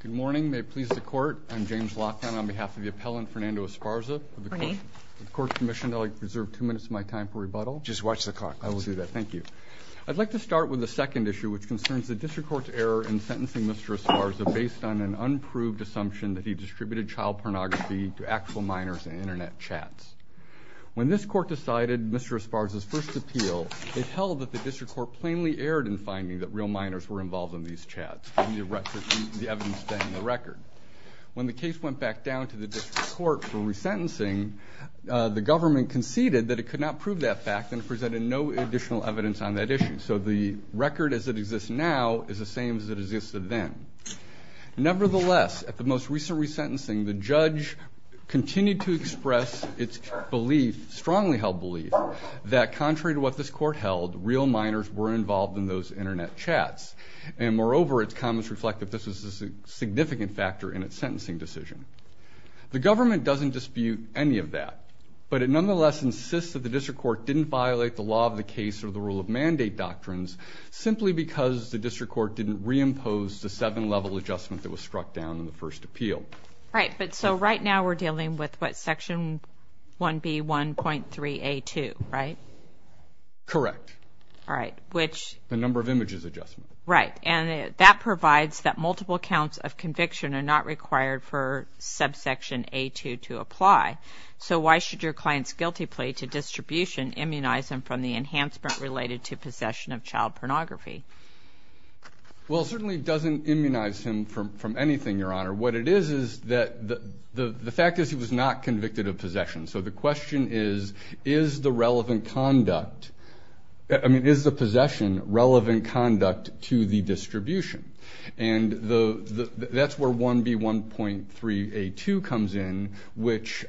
Good morning. May it please the court. I'm James Loftham on behalf of the appellant Fernando Esparza. Good morning. The court's commissioned that I reserve two minutes of my time for rebuttal. Just watch the clock. I will do that. Thank you. I'd like to start with the second issue which concerns the district court's error in sentencing Mr. Esparza based on an unproved assumption that he distributed child pornography to actual minors in Internet chats. When this court decided Mr. Esparza's first appeal, it held that the district court plainly erred in finding that real minors were involved in these chats. The evidence staying in the record. When the case went back down to the district court for resentencing, the government conceded that it could not prove that fact and presented no additional evidence on that issue. So the record as it exists now is the same as it existed then. Nevertheless, at the most recent resentencing, the judge continued to express its belief, strongly held belief, that contrary to what this court held, real minors were involved in those Internet chats. And moreover, its comments reflect that this is a significant factor in its sentencing decision. The government doesn't dispute any of that, but it nonetheless insists that the district court didn't violate the law of the case or the rule of mandate doctrines simply because the district court didn't reimpose the seven-level adjustment that was struck down in the first appeal. Right, but so right now we're dealing with what? Section 1B1.3A2, right? Correct. All right. Which? The number of images adjustment. Right, and that provides that multiple counts of conviction are not required for subsection A2 to apply. So why should your client's guilty plea to distribution immunize him from the enhancement related to possession of child pornography? Well, it certainly doesn't immunize him from anything, Your Honor. What it is is that the fact is he was not convicted of possession. So the question is, is the relevant conduct, I mean, is the possession relevant conduct to the distribution? And that's where 1B1.3A2 comes in, which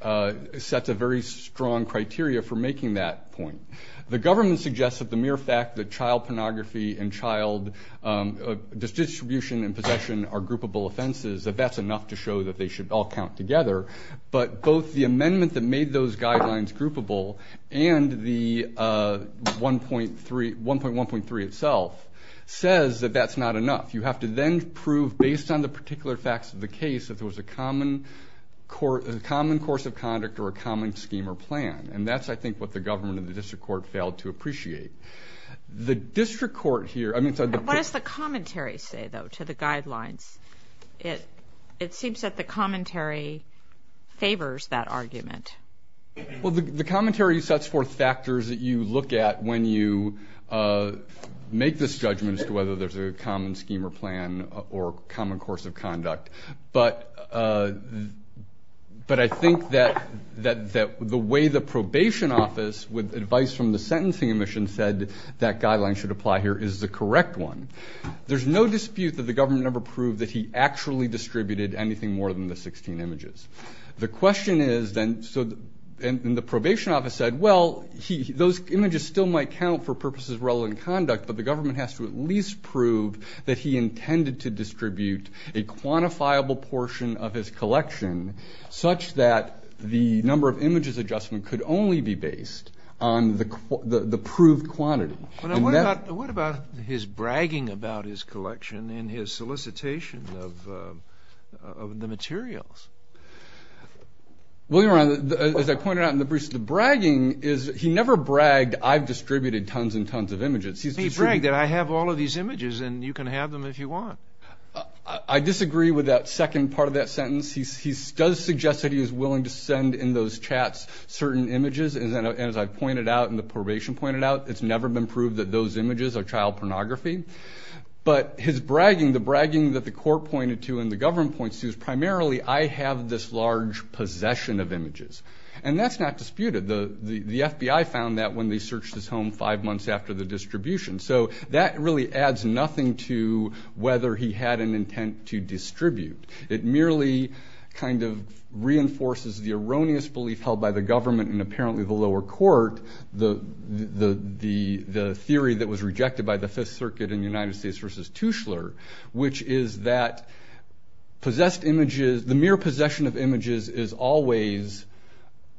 sets a very strong criteria for making that point. The government suggests that the mere fact that child pornography and child distribution and possession are groupable offenses, that that's enough to show that they should all count together. But both the amendment that made those guidelines groupable and the 1.1.3 itself says that that's not enough. You have to then prove, based on the particular facts of the case, that there was a common course of conduct or a common scheme or plan. And that's, I think, what the government and the district court failed to appreciate. The district court here, I mean, so the- What does the commentary say, though, to the guidelines? It seems that the commentary favors that argument. Well, the commentary sets forth factors that you look at when you make this judgment as to whether there's a common scheme or plan or common course of conduct. But I think that the way the probation office, with advice from the sentencing admission, said that guidelines should apply here is the correct one. There's no dispute that the government never proved that he actually distributed anything more than the 16 images. The question is then, and the probation office said, well, those images still might count for purposes of relevant conduct, but the government has to at least prove that he intended to distribute a quantifiable portion of his collection such that the number of images adjustment could only be based on the proved quantity. What about his bragging about his collection in his solicitation of the materials? Well, Your Honor, as I pointed out in the briefs, the bragging is he never bragged I've distributed tons and tons of images. He bragged that I have all of these images and you can have them if you want. I disagree with that second part of that sentence. He does suggest that he is willing to send in those chats certain images, and as I've pointed out and the probation pointed out, it's never been proved that those images are child pornography. But his bragging, the bragging that the court pointed to and the government points to is primarily I have this large possession of images. And that's not disputed. The FBI found that when they searched his home five months after the distribution. So that really adds nothing to whether he had an intent to distribute. It merely kind of reinforces the erroneous belief held by the government and apparently the lower court, the theory that was rejected by the Fifth Circuit in the United States versus Tushler, which is that possessed images, the mere possession of images is always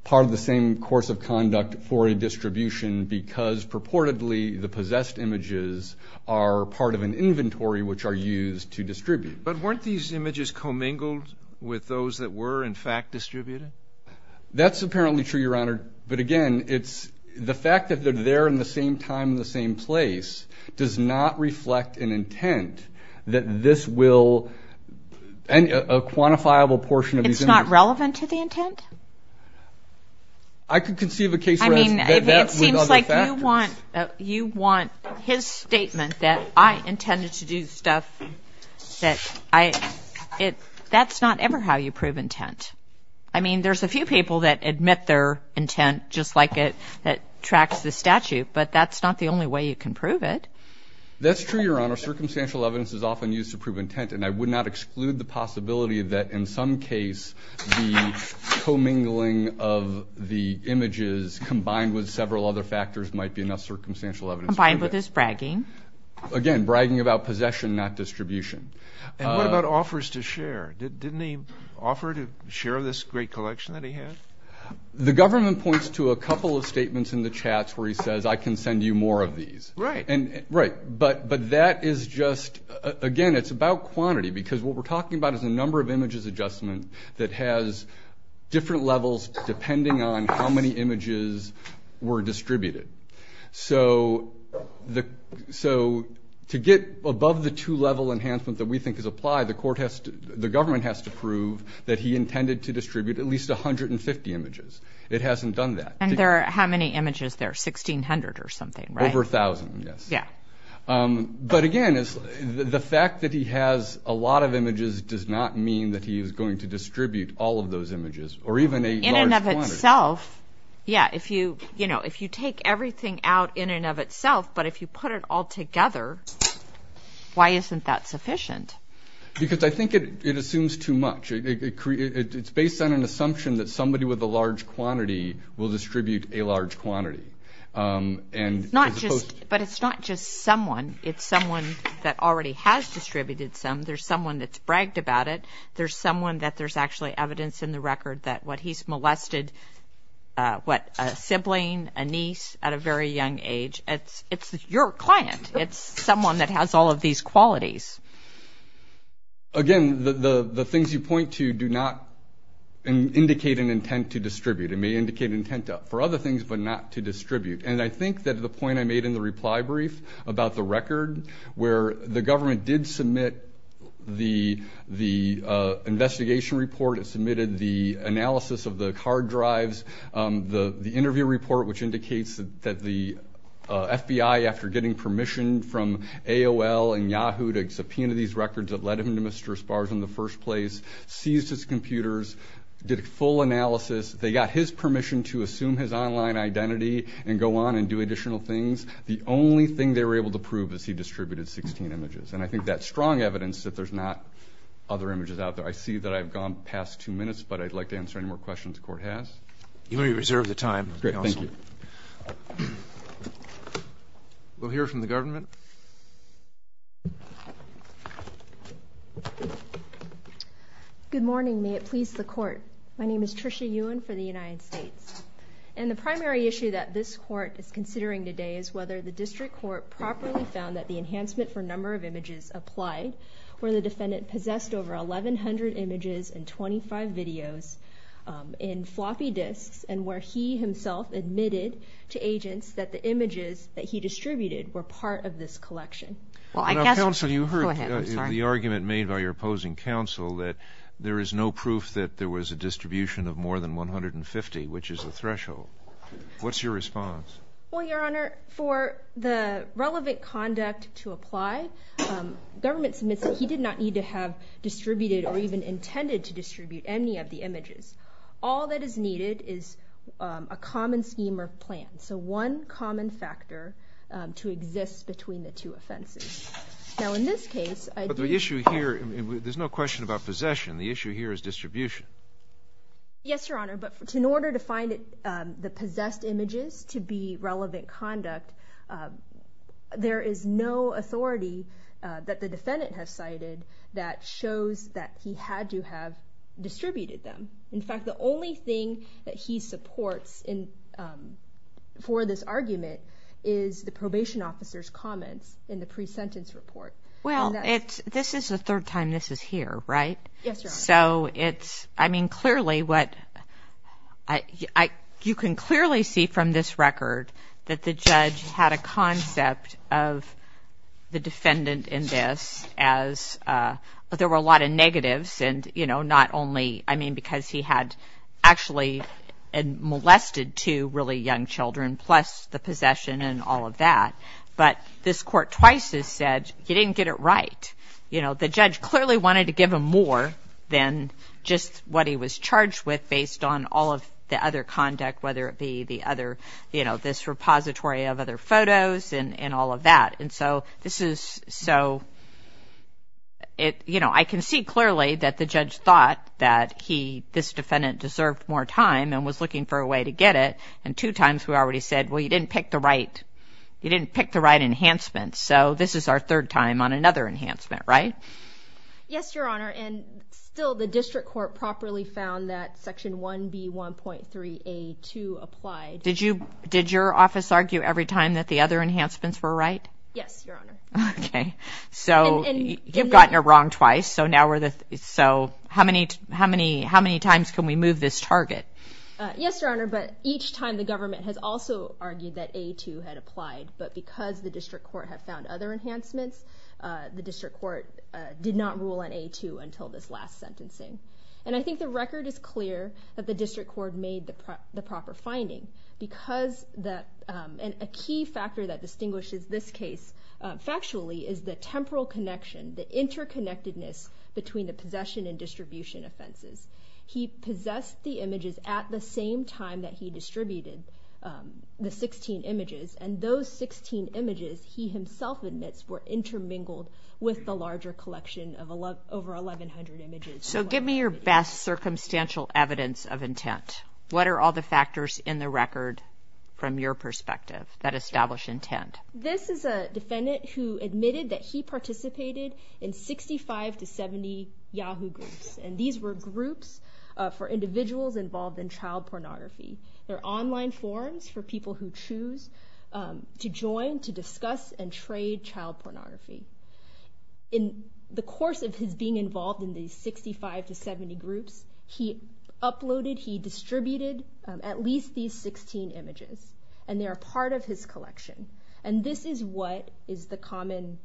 part of the same course of conduct for a distribution because purportedly the possessed images are part of an inventory which are used to distribute. But weren't these images commingled with those that were in fact distributed? That's apparently true, Your Honor. But again, the fact that they're there in the same time and the same place does not reflect an intent that this will, a quantifiable portion of these images. It's not relevant to the intent? I could conceive a case where that would other factors. It seems like you want his statement that I intended to do stuff that I, that's not ever how you prove intent. I mean, there's a few people that admit their intent just like it, that tracks the statute, but that's not the only way you can prove it. That's true, Your Honor. Circumstantial evidence is often used to prove intent, and I would not exclude the possibility that in some case the commingling of the images combined with several other factors might be enough circumstantial evidence. Combined with his bragging. Again, bragging about possession, not distribution. And what about offers to share? Didn't he offer to share this great collection that he had? The government points to a couple of statements in the chats where he says, I can send you more of these. Right. Right. But that is just, again, it's about quantity, because what we're talking about is a number of images adjustment that has different levels depending on how many images were distributed. So to get above the two-level enhancement that we think is applied, the government has to prove that he intended to distribute at least 150 images. It hasn't done that. And there are how many images there, 1,600 or something, right? Over 1,000, yes. Yeah. But, again, the fact that he has a lot of images does not mean that he is going to distribute all of those images or even a large quantity. In and of itself, yeah, if you take everything out in and of itself, but if you put it all together, why isn't that sufficient? Because I think it assumes too much. It's based on an assumption that somebody with a large quantity will distribute a large quantity. But it's not just someone. It's someone that already has distributed some. There's someone that's bragged about it. There's someone that there's actually evidence in the record that what he's molested, what, a sibling, a niece at a very young age. It's your client. It's someone that has all of these qualities. Again, the things you point to do not indicate an intent to distribute. It may indicate intent for other things but not to distribute. And I think that the point I made in the reply brief about the record, where the government did submit the investigation report, it submitted the analysis of the car drives, the interview report, which indicates that the FBI, after getting permission from AOL and Yahoo to subpoena these records that led him to Mr. Esparza in the first place, seized his computers, did a full analysis. They got his permission to assume his online identity and go on and do additional things. The only thing they were able to prove is he distributed 16 images. And I think that's strong evidence that there's not other images out there. I see that I've gone past two minutes, but I'd like to answer any more questions the Court has. You may reserve the time. Great. Thank you. We'll hear from the government. Good morning. May it please the Court. My name is Tricia Yuen for the United States. And the primary issue that this Court is considering today is whether the district court properly found that the enhancement for number of images applied, where the defendant possessed over 1,100 images and 25 videos in floppy disks, and where he himself admitted to agents that the images that he distributed were part of this collection. Counsel, you heard the argument made by your opposing counsel that there is no proof that there was a distribution of more than 150, which is a threshold. What's your response? Well, Your Honor, for the relevant conduct to apply, government submits that he did not need to have distributed or even intended to distribute any of the images. All that is needed is a common scheme or plan, so one common factor to exist between the two offenses. Now, in this case, I do ---- But the issue here, there's no question about possession. The issue here is distribution. Yes, Your Honor, but in order to find the possessed images to be relevant conduct, there is no authority that the defendant has cited that shows that he had to have distributed them. In fact, the only thing that he supports for this argument is the probation officer's comments in the pre-sentence report. Well, this is the third time this is here, right? Yes, Your Honor. So it's, I mean, clearly what ---- You can clearly see from this record that the judge had a concept of the possession, you know, not only, I mean, because he had actually molested two really young children plus the possession and all of that, but this court twice has said he didn't get it right. You know, the judge clearly wanted to give him more than just what he was charged with based on all of the other conduct, whether it be the other, you know, this repository of other photos and all of that. And so this is so, you know, I can see clearly that the judge thought that he, this defendant, deserved more time and was looking for a way to get it, and two times we already said, well, you didn't pick the right, you didn't pick the right enhancement. So this is our third time on another enhancement, right? Yes, Your Honor. And still the district court properly found that Section 1B1.3A2 applied. Did your office argue every time that the other enhancements were right? Yes, Your Honor. Okay. So you've gotten it wrong twice, so now we're the, so how many times can we move this target? Yes, Your Honor, but each time the government has also argued that A2 had applied, but because the district court had found other enhancements, the district court did not rule on A2 until this last sentencing. And I think the record is clear that the district court made the proper finding because the, and a key factor that distinguishes this case factually is the temporal connection, the interconnectedness between the possession and distribution offenses. He possessed the images at the same time that he distributed the 16 images, and those 16 images, he himself admits, were intermingled with the larger collection of over 1,100 images. So give me your best circumstantial evidence of intent. What are all the factors in the record from your perspective that establish intent? This is a defendant who admitted that he participated in 65 to 70 Yahoo groups, and these were groups for individuals involved in child pornography. They're online forums for people who choose to join to discuss and trade child pornography. In the course of his being involved in these 65 to 70 groups, he uploaded, he distributed at least these 16 images, and they're a part of his collection. And this is what is the common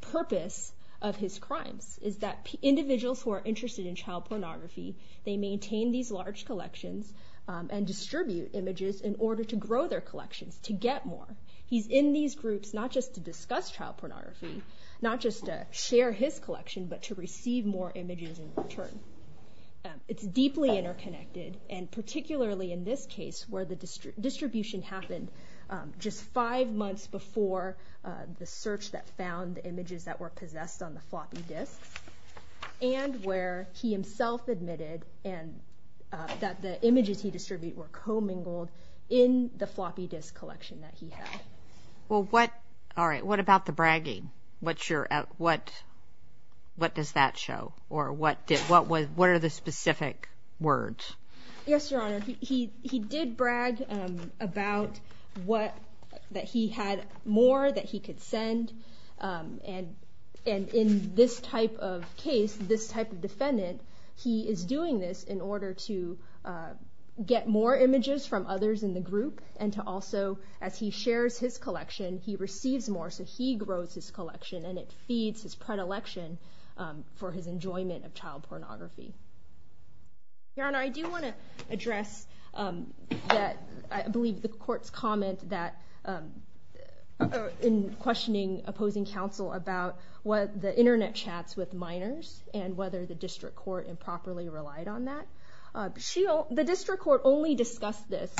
purpose of his crimes, is that individuals who are interested in child pornography, they maintain these large collections and distribute images in order to grow their collections, to get more. He's in these groups not just to discuss child pornography, not just to share his collection, but to receive more images in return. It's deeply interconnected, and particularly in this case, where the distribution happened just five months before the search that found the images that were possessed on the floppy disks, and where he himself admitted that the images he distributed were commingled in the floppy disk collection that he had. Well, what about the bragging? What does that show, or what are the specific words? Yes, Your Honor. He did brag about that he had more that he could send, and in this type of case, this type of defendant, he is doing this in order to get more images from others in the group and to also, as he shares his collection, he receives more, so he grows his collection, and it feeds his predilection for his enjoyment of child pornography. Your Honor, I do want to address that I believe the court's comment in questioning opposing counsel about the Internet chats with minors and whether the district court improperly relied on that. The district court only discussed this.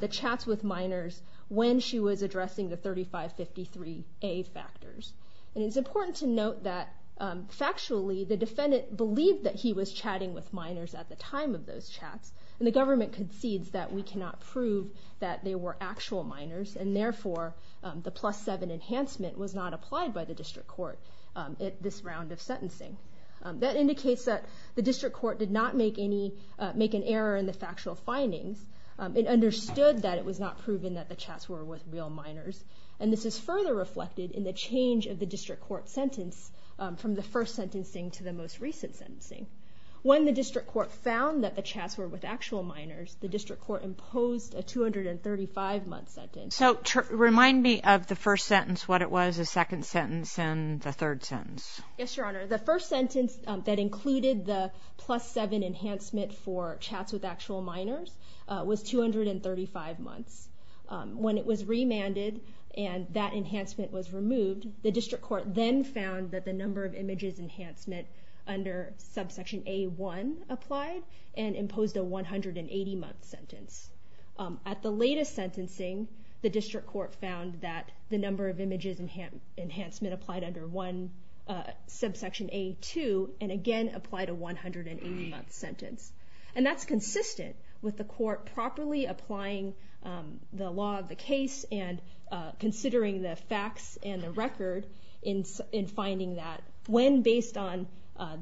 The chats with minors when she was addressing the 3553A factors, and it's important to note that factually the defendant believed that he was chatting with minors at the time of those chats, and the government concedes that we cannot prove that they were actual minors, and therefore the plus seven enhancement was not applied by the district court at this round of sentencing. That indicates that the district court did not make an error in the factual findings. It understood that it was not proven that the chats were with real minors, and this is further reflected in the change of the district court sentence from the first sentencing to the most recent sentencing. When the district court found that the chats were with actual minors, the district court imposed a 235-month sentence. So remind me of the first sentence, what it was, the second sentence, and the third sentence. Yes, Your Honor. The first sentence that included the plus seven enhancement for chats with actual minors was 235 months. When it was remanded and that enhancement was removed, the district court then found that the number of images enhancement under subsection A1 applied and imposed a 180-month sentence. At the latest sentencing, the district court found that the number of images enhancement applied under subsection A2 and again applied a 180-month sentence. And that's consistent with the court properly applying the law of the case and considering the facts and the record in finding that when based on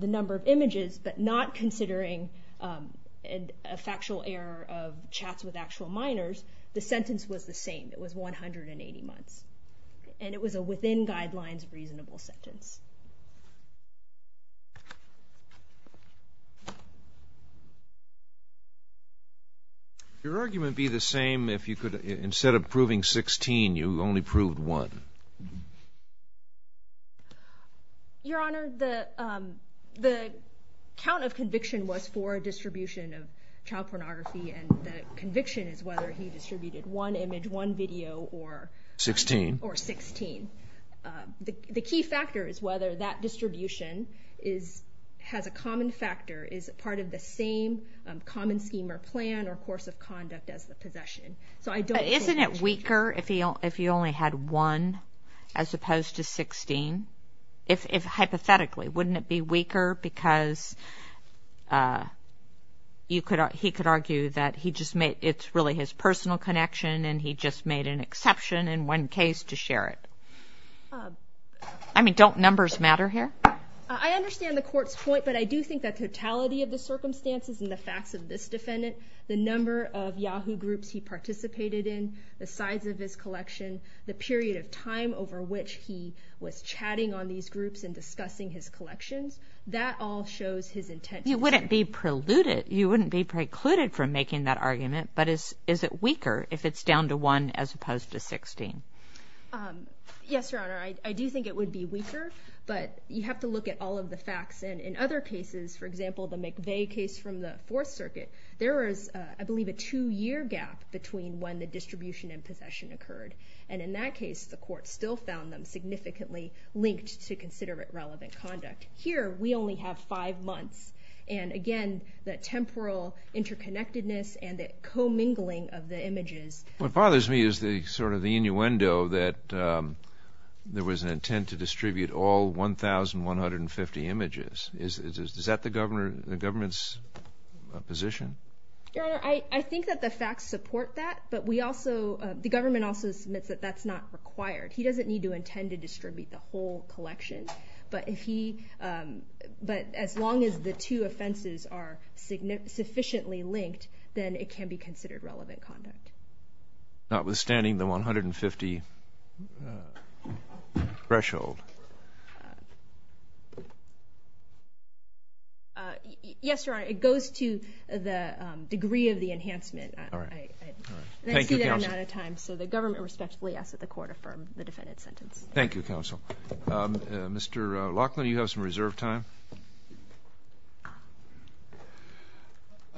the number of images but not considering a factual error of chats with actual minors, the sentence was the same. It was 180 months. And it was a within guidelines reasonable sentence. Would your argument be the same if instead of proving 16, you only proved one? Your Honor, the count of conviction was for distribution of child pornography and the conviction is whether he distributed one image, one video or 16. The key factor is whether that distribution has a common factor, is part of the same common scheme or plan or course of conduct as the possession. Isn't it weaker if you only had one as opposed to 16? Hypothetically, wouldn't it be weaker because he could argue that it's really his personal connection and he just made an exception in one case to share it? I mean, don't numbers matter here? I understand the court's point, but I do think that totality of the circumstances and the facts of this defendant, the number of Yahoo groups he participated in, the size of his collection, the period of time over which he was chatting on these groups and discussing his collections, that all shows his intent. You wouldn't be precluded from making that argument, but is it weaker if it's down to one as opposed to 16? Yes, Your Honor. I do think it would be weaker, but you have to look at all of the facts. And in other cases, for example, the McVeigh case from the Fourth Circuit, there was, I believe, a two-year gap between when the distribution and possession occurred. And in that case, the court still found them significantly linked to considerate relevant conduct. Here, we only have five months. And again, that temporal interconnectedness and the commingling of the images. What bothers me is sort of the innuendo that there was an intent to distribute all 1,150 images. Is that the government's position? Your Honor, I think that the facts support that, but the government also submits that that's not required. He doesn't need to intend to distribute the whole collection. But as long as the two offenses are sufficiently linked, then it can be considered relevant conduct. Notwithstanding the 150 threshold. Yes, Your Honor, it goes to the degree of the enhancement. All right. Thank you, Counsel. And I see that I'm out of time, so the government respectfully asks that the court affirm the defendant's sentence. Thank you, Counsel. Mr. Laughlin, you have some reserve time.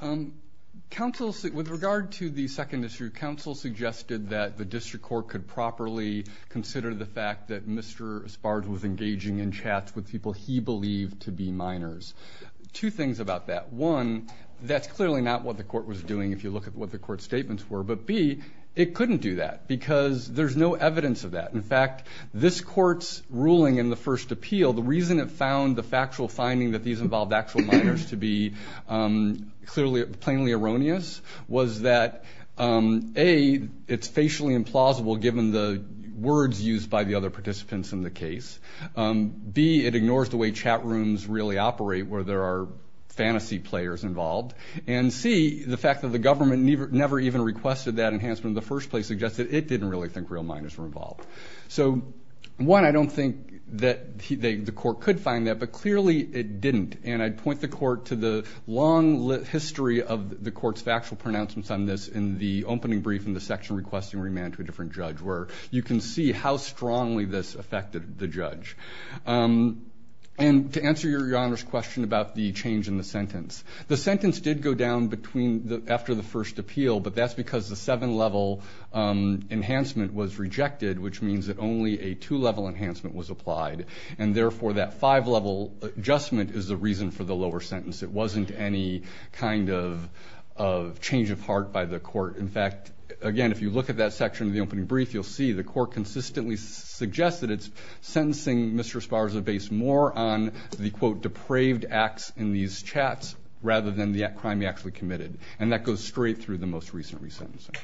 With regard to the second issue, counsel suggested that the district court could properly consider the fact that Mr. Sparge was engaging in chats with people he believed to be minors. Two things about that. One, that's clearly not what the court was doing if you look at what the court's statements were. But, B, it couldn't do that because there's no evidence of that. In fact, this court's ruling in the first appeal, the reason it found the factual finding that these involved actual minors to be plainly erroneous, was that, A, it's facially implausible given the words used by the other participants in the case. B, it ignores the way chat rooms really operate where there are fantasy players involved. And, C, the fact that the government never even requested that enhancement in the first place suggests that it didn't really think real minors were involved. So, one, I don't think that the court could find that, but clearly it didn't. And I'd point the court to the long history of the court's factual pronouncements on this in the opening brief in the section requesting remand to a different judge where you can see how strongly this affected the judge. And to answer Your Honor's question about the change in the sentence, the sentence did go down after the first appeal, but that's because the seven-level enhancement was rejected, which means that only a two-level enhancement was applied. And, therefore, that five-level adjustment is the reason for the lower sentence. It wasn't any kind of change of heart by the court. In fact, again, if you look at that section of the opening brief, you'll see the court consistently suggests that it's sentencing Mr. Esparza based more on the, quote, depraved acts in these chats rather than the crime he actually committed. And that goes straight through the most recent resentencing,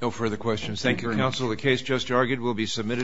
No further questions. Thank you, Counsel. The case just argued will be submitted.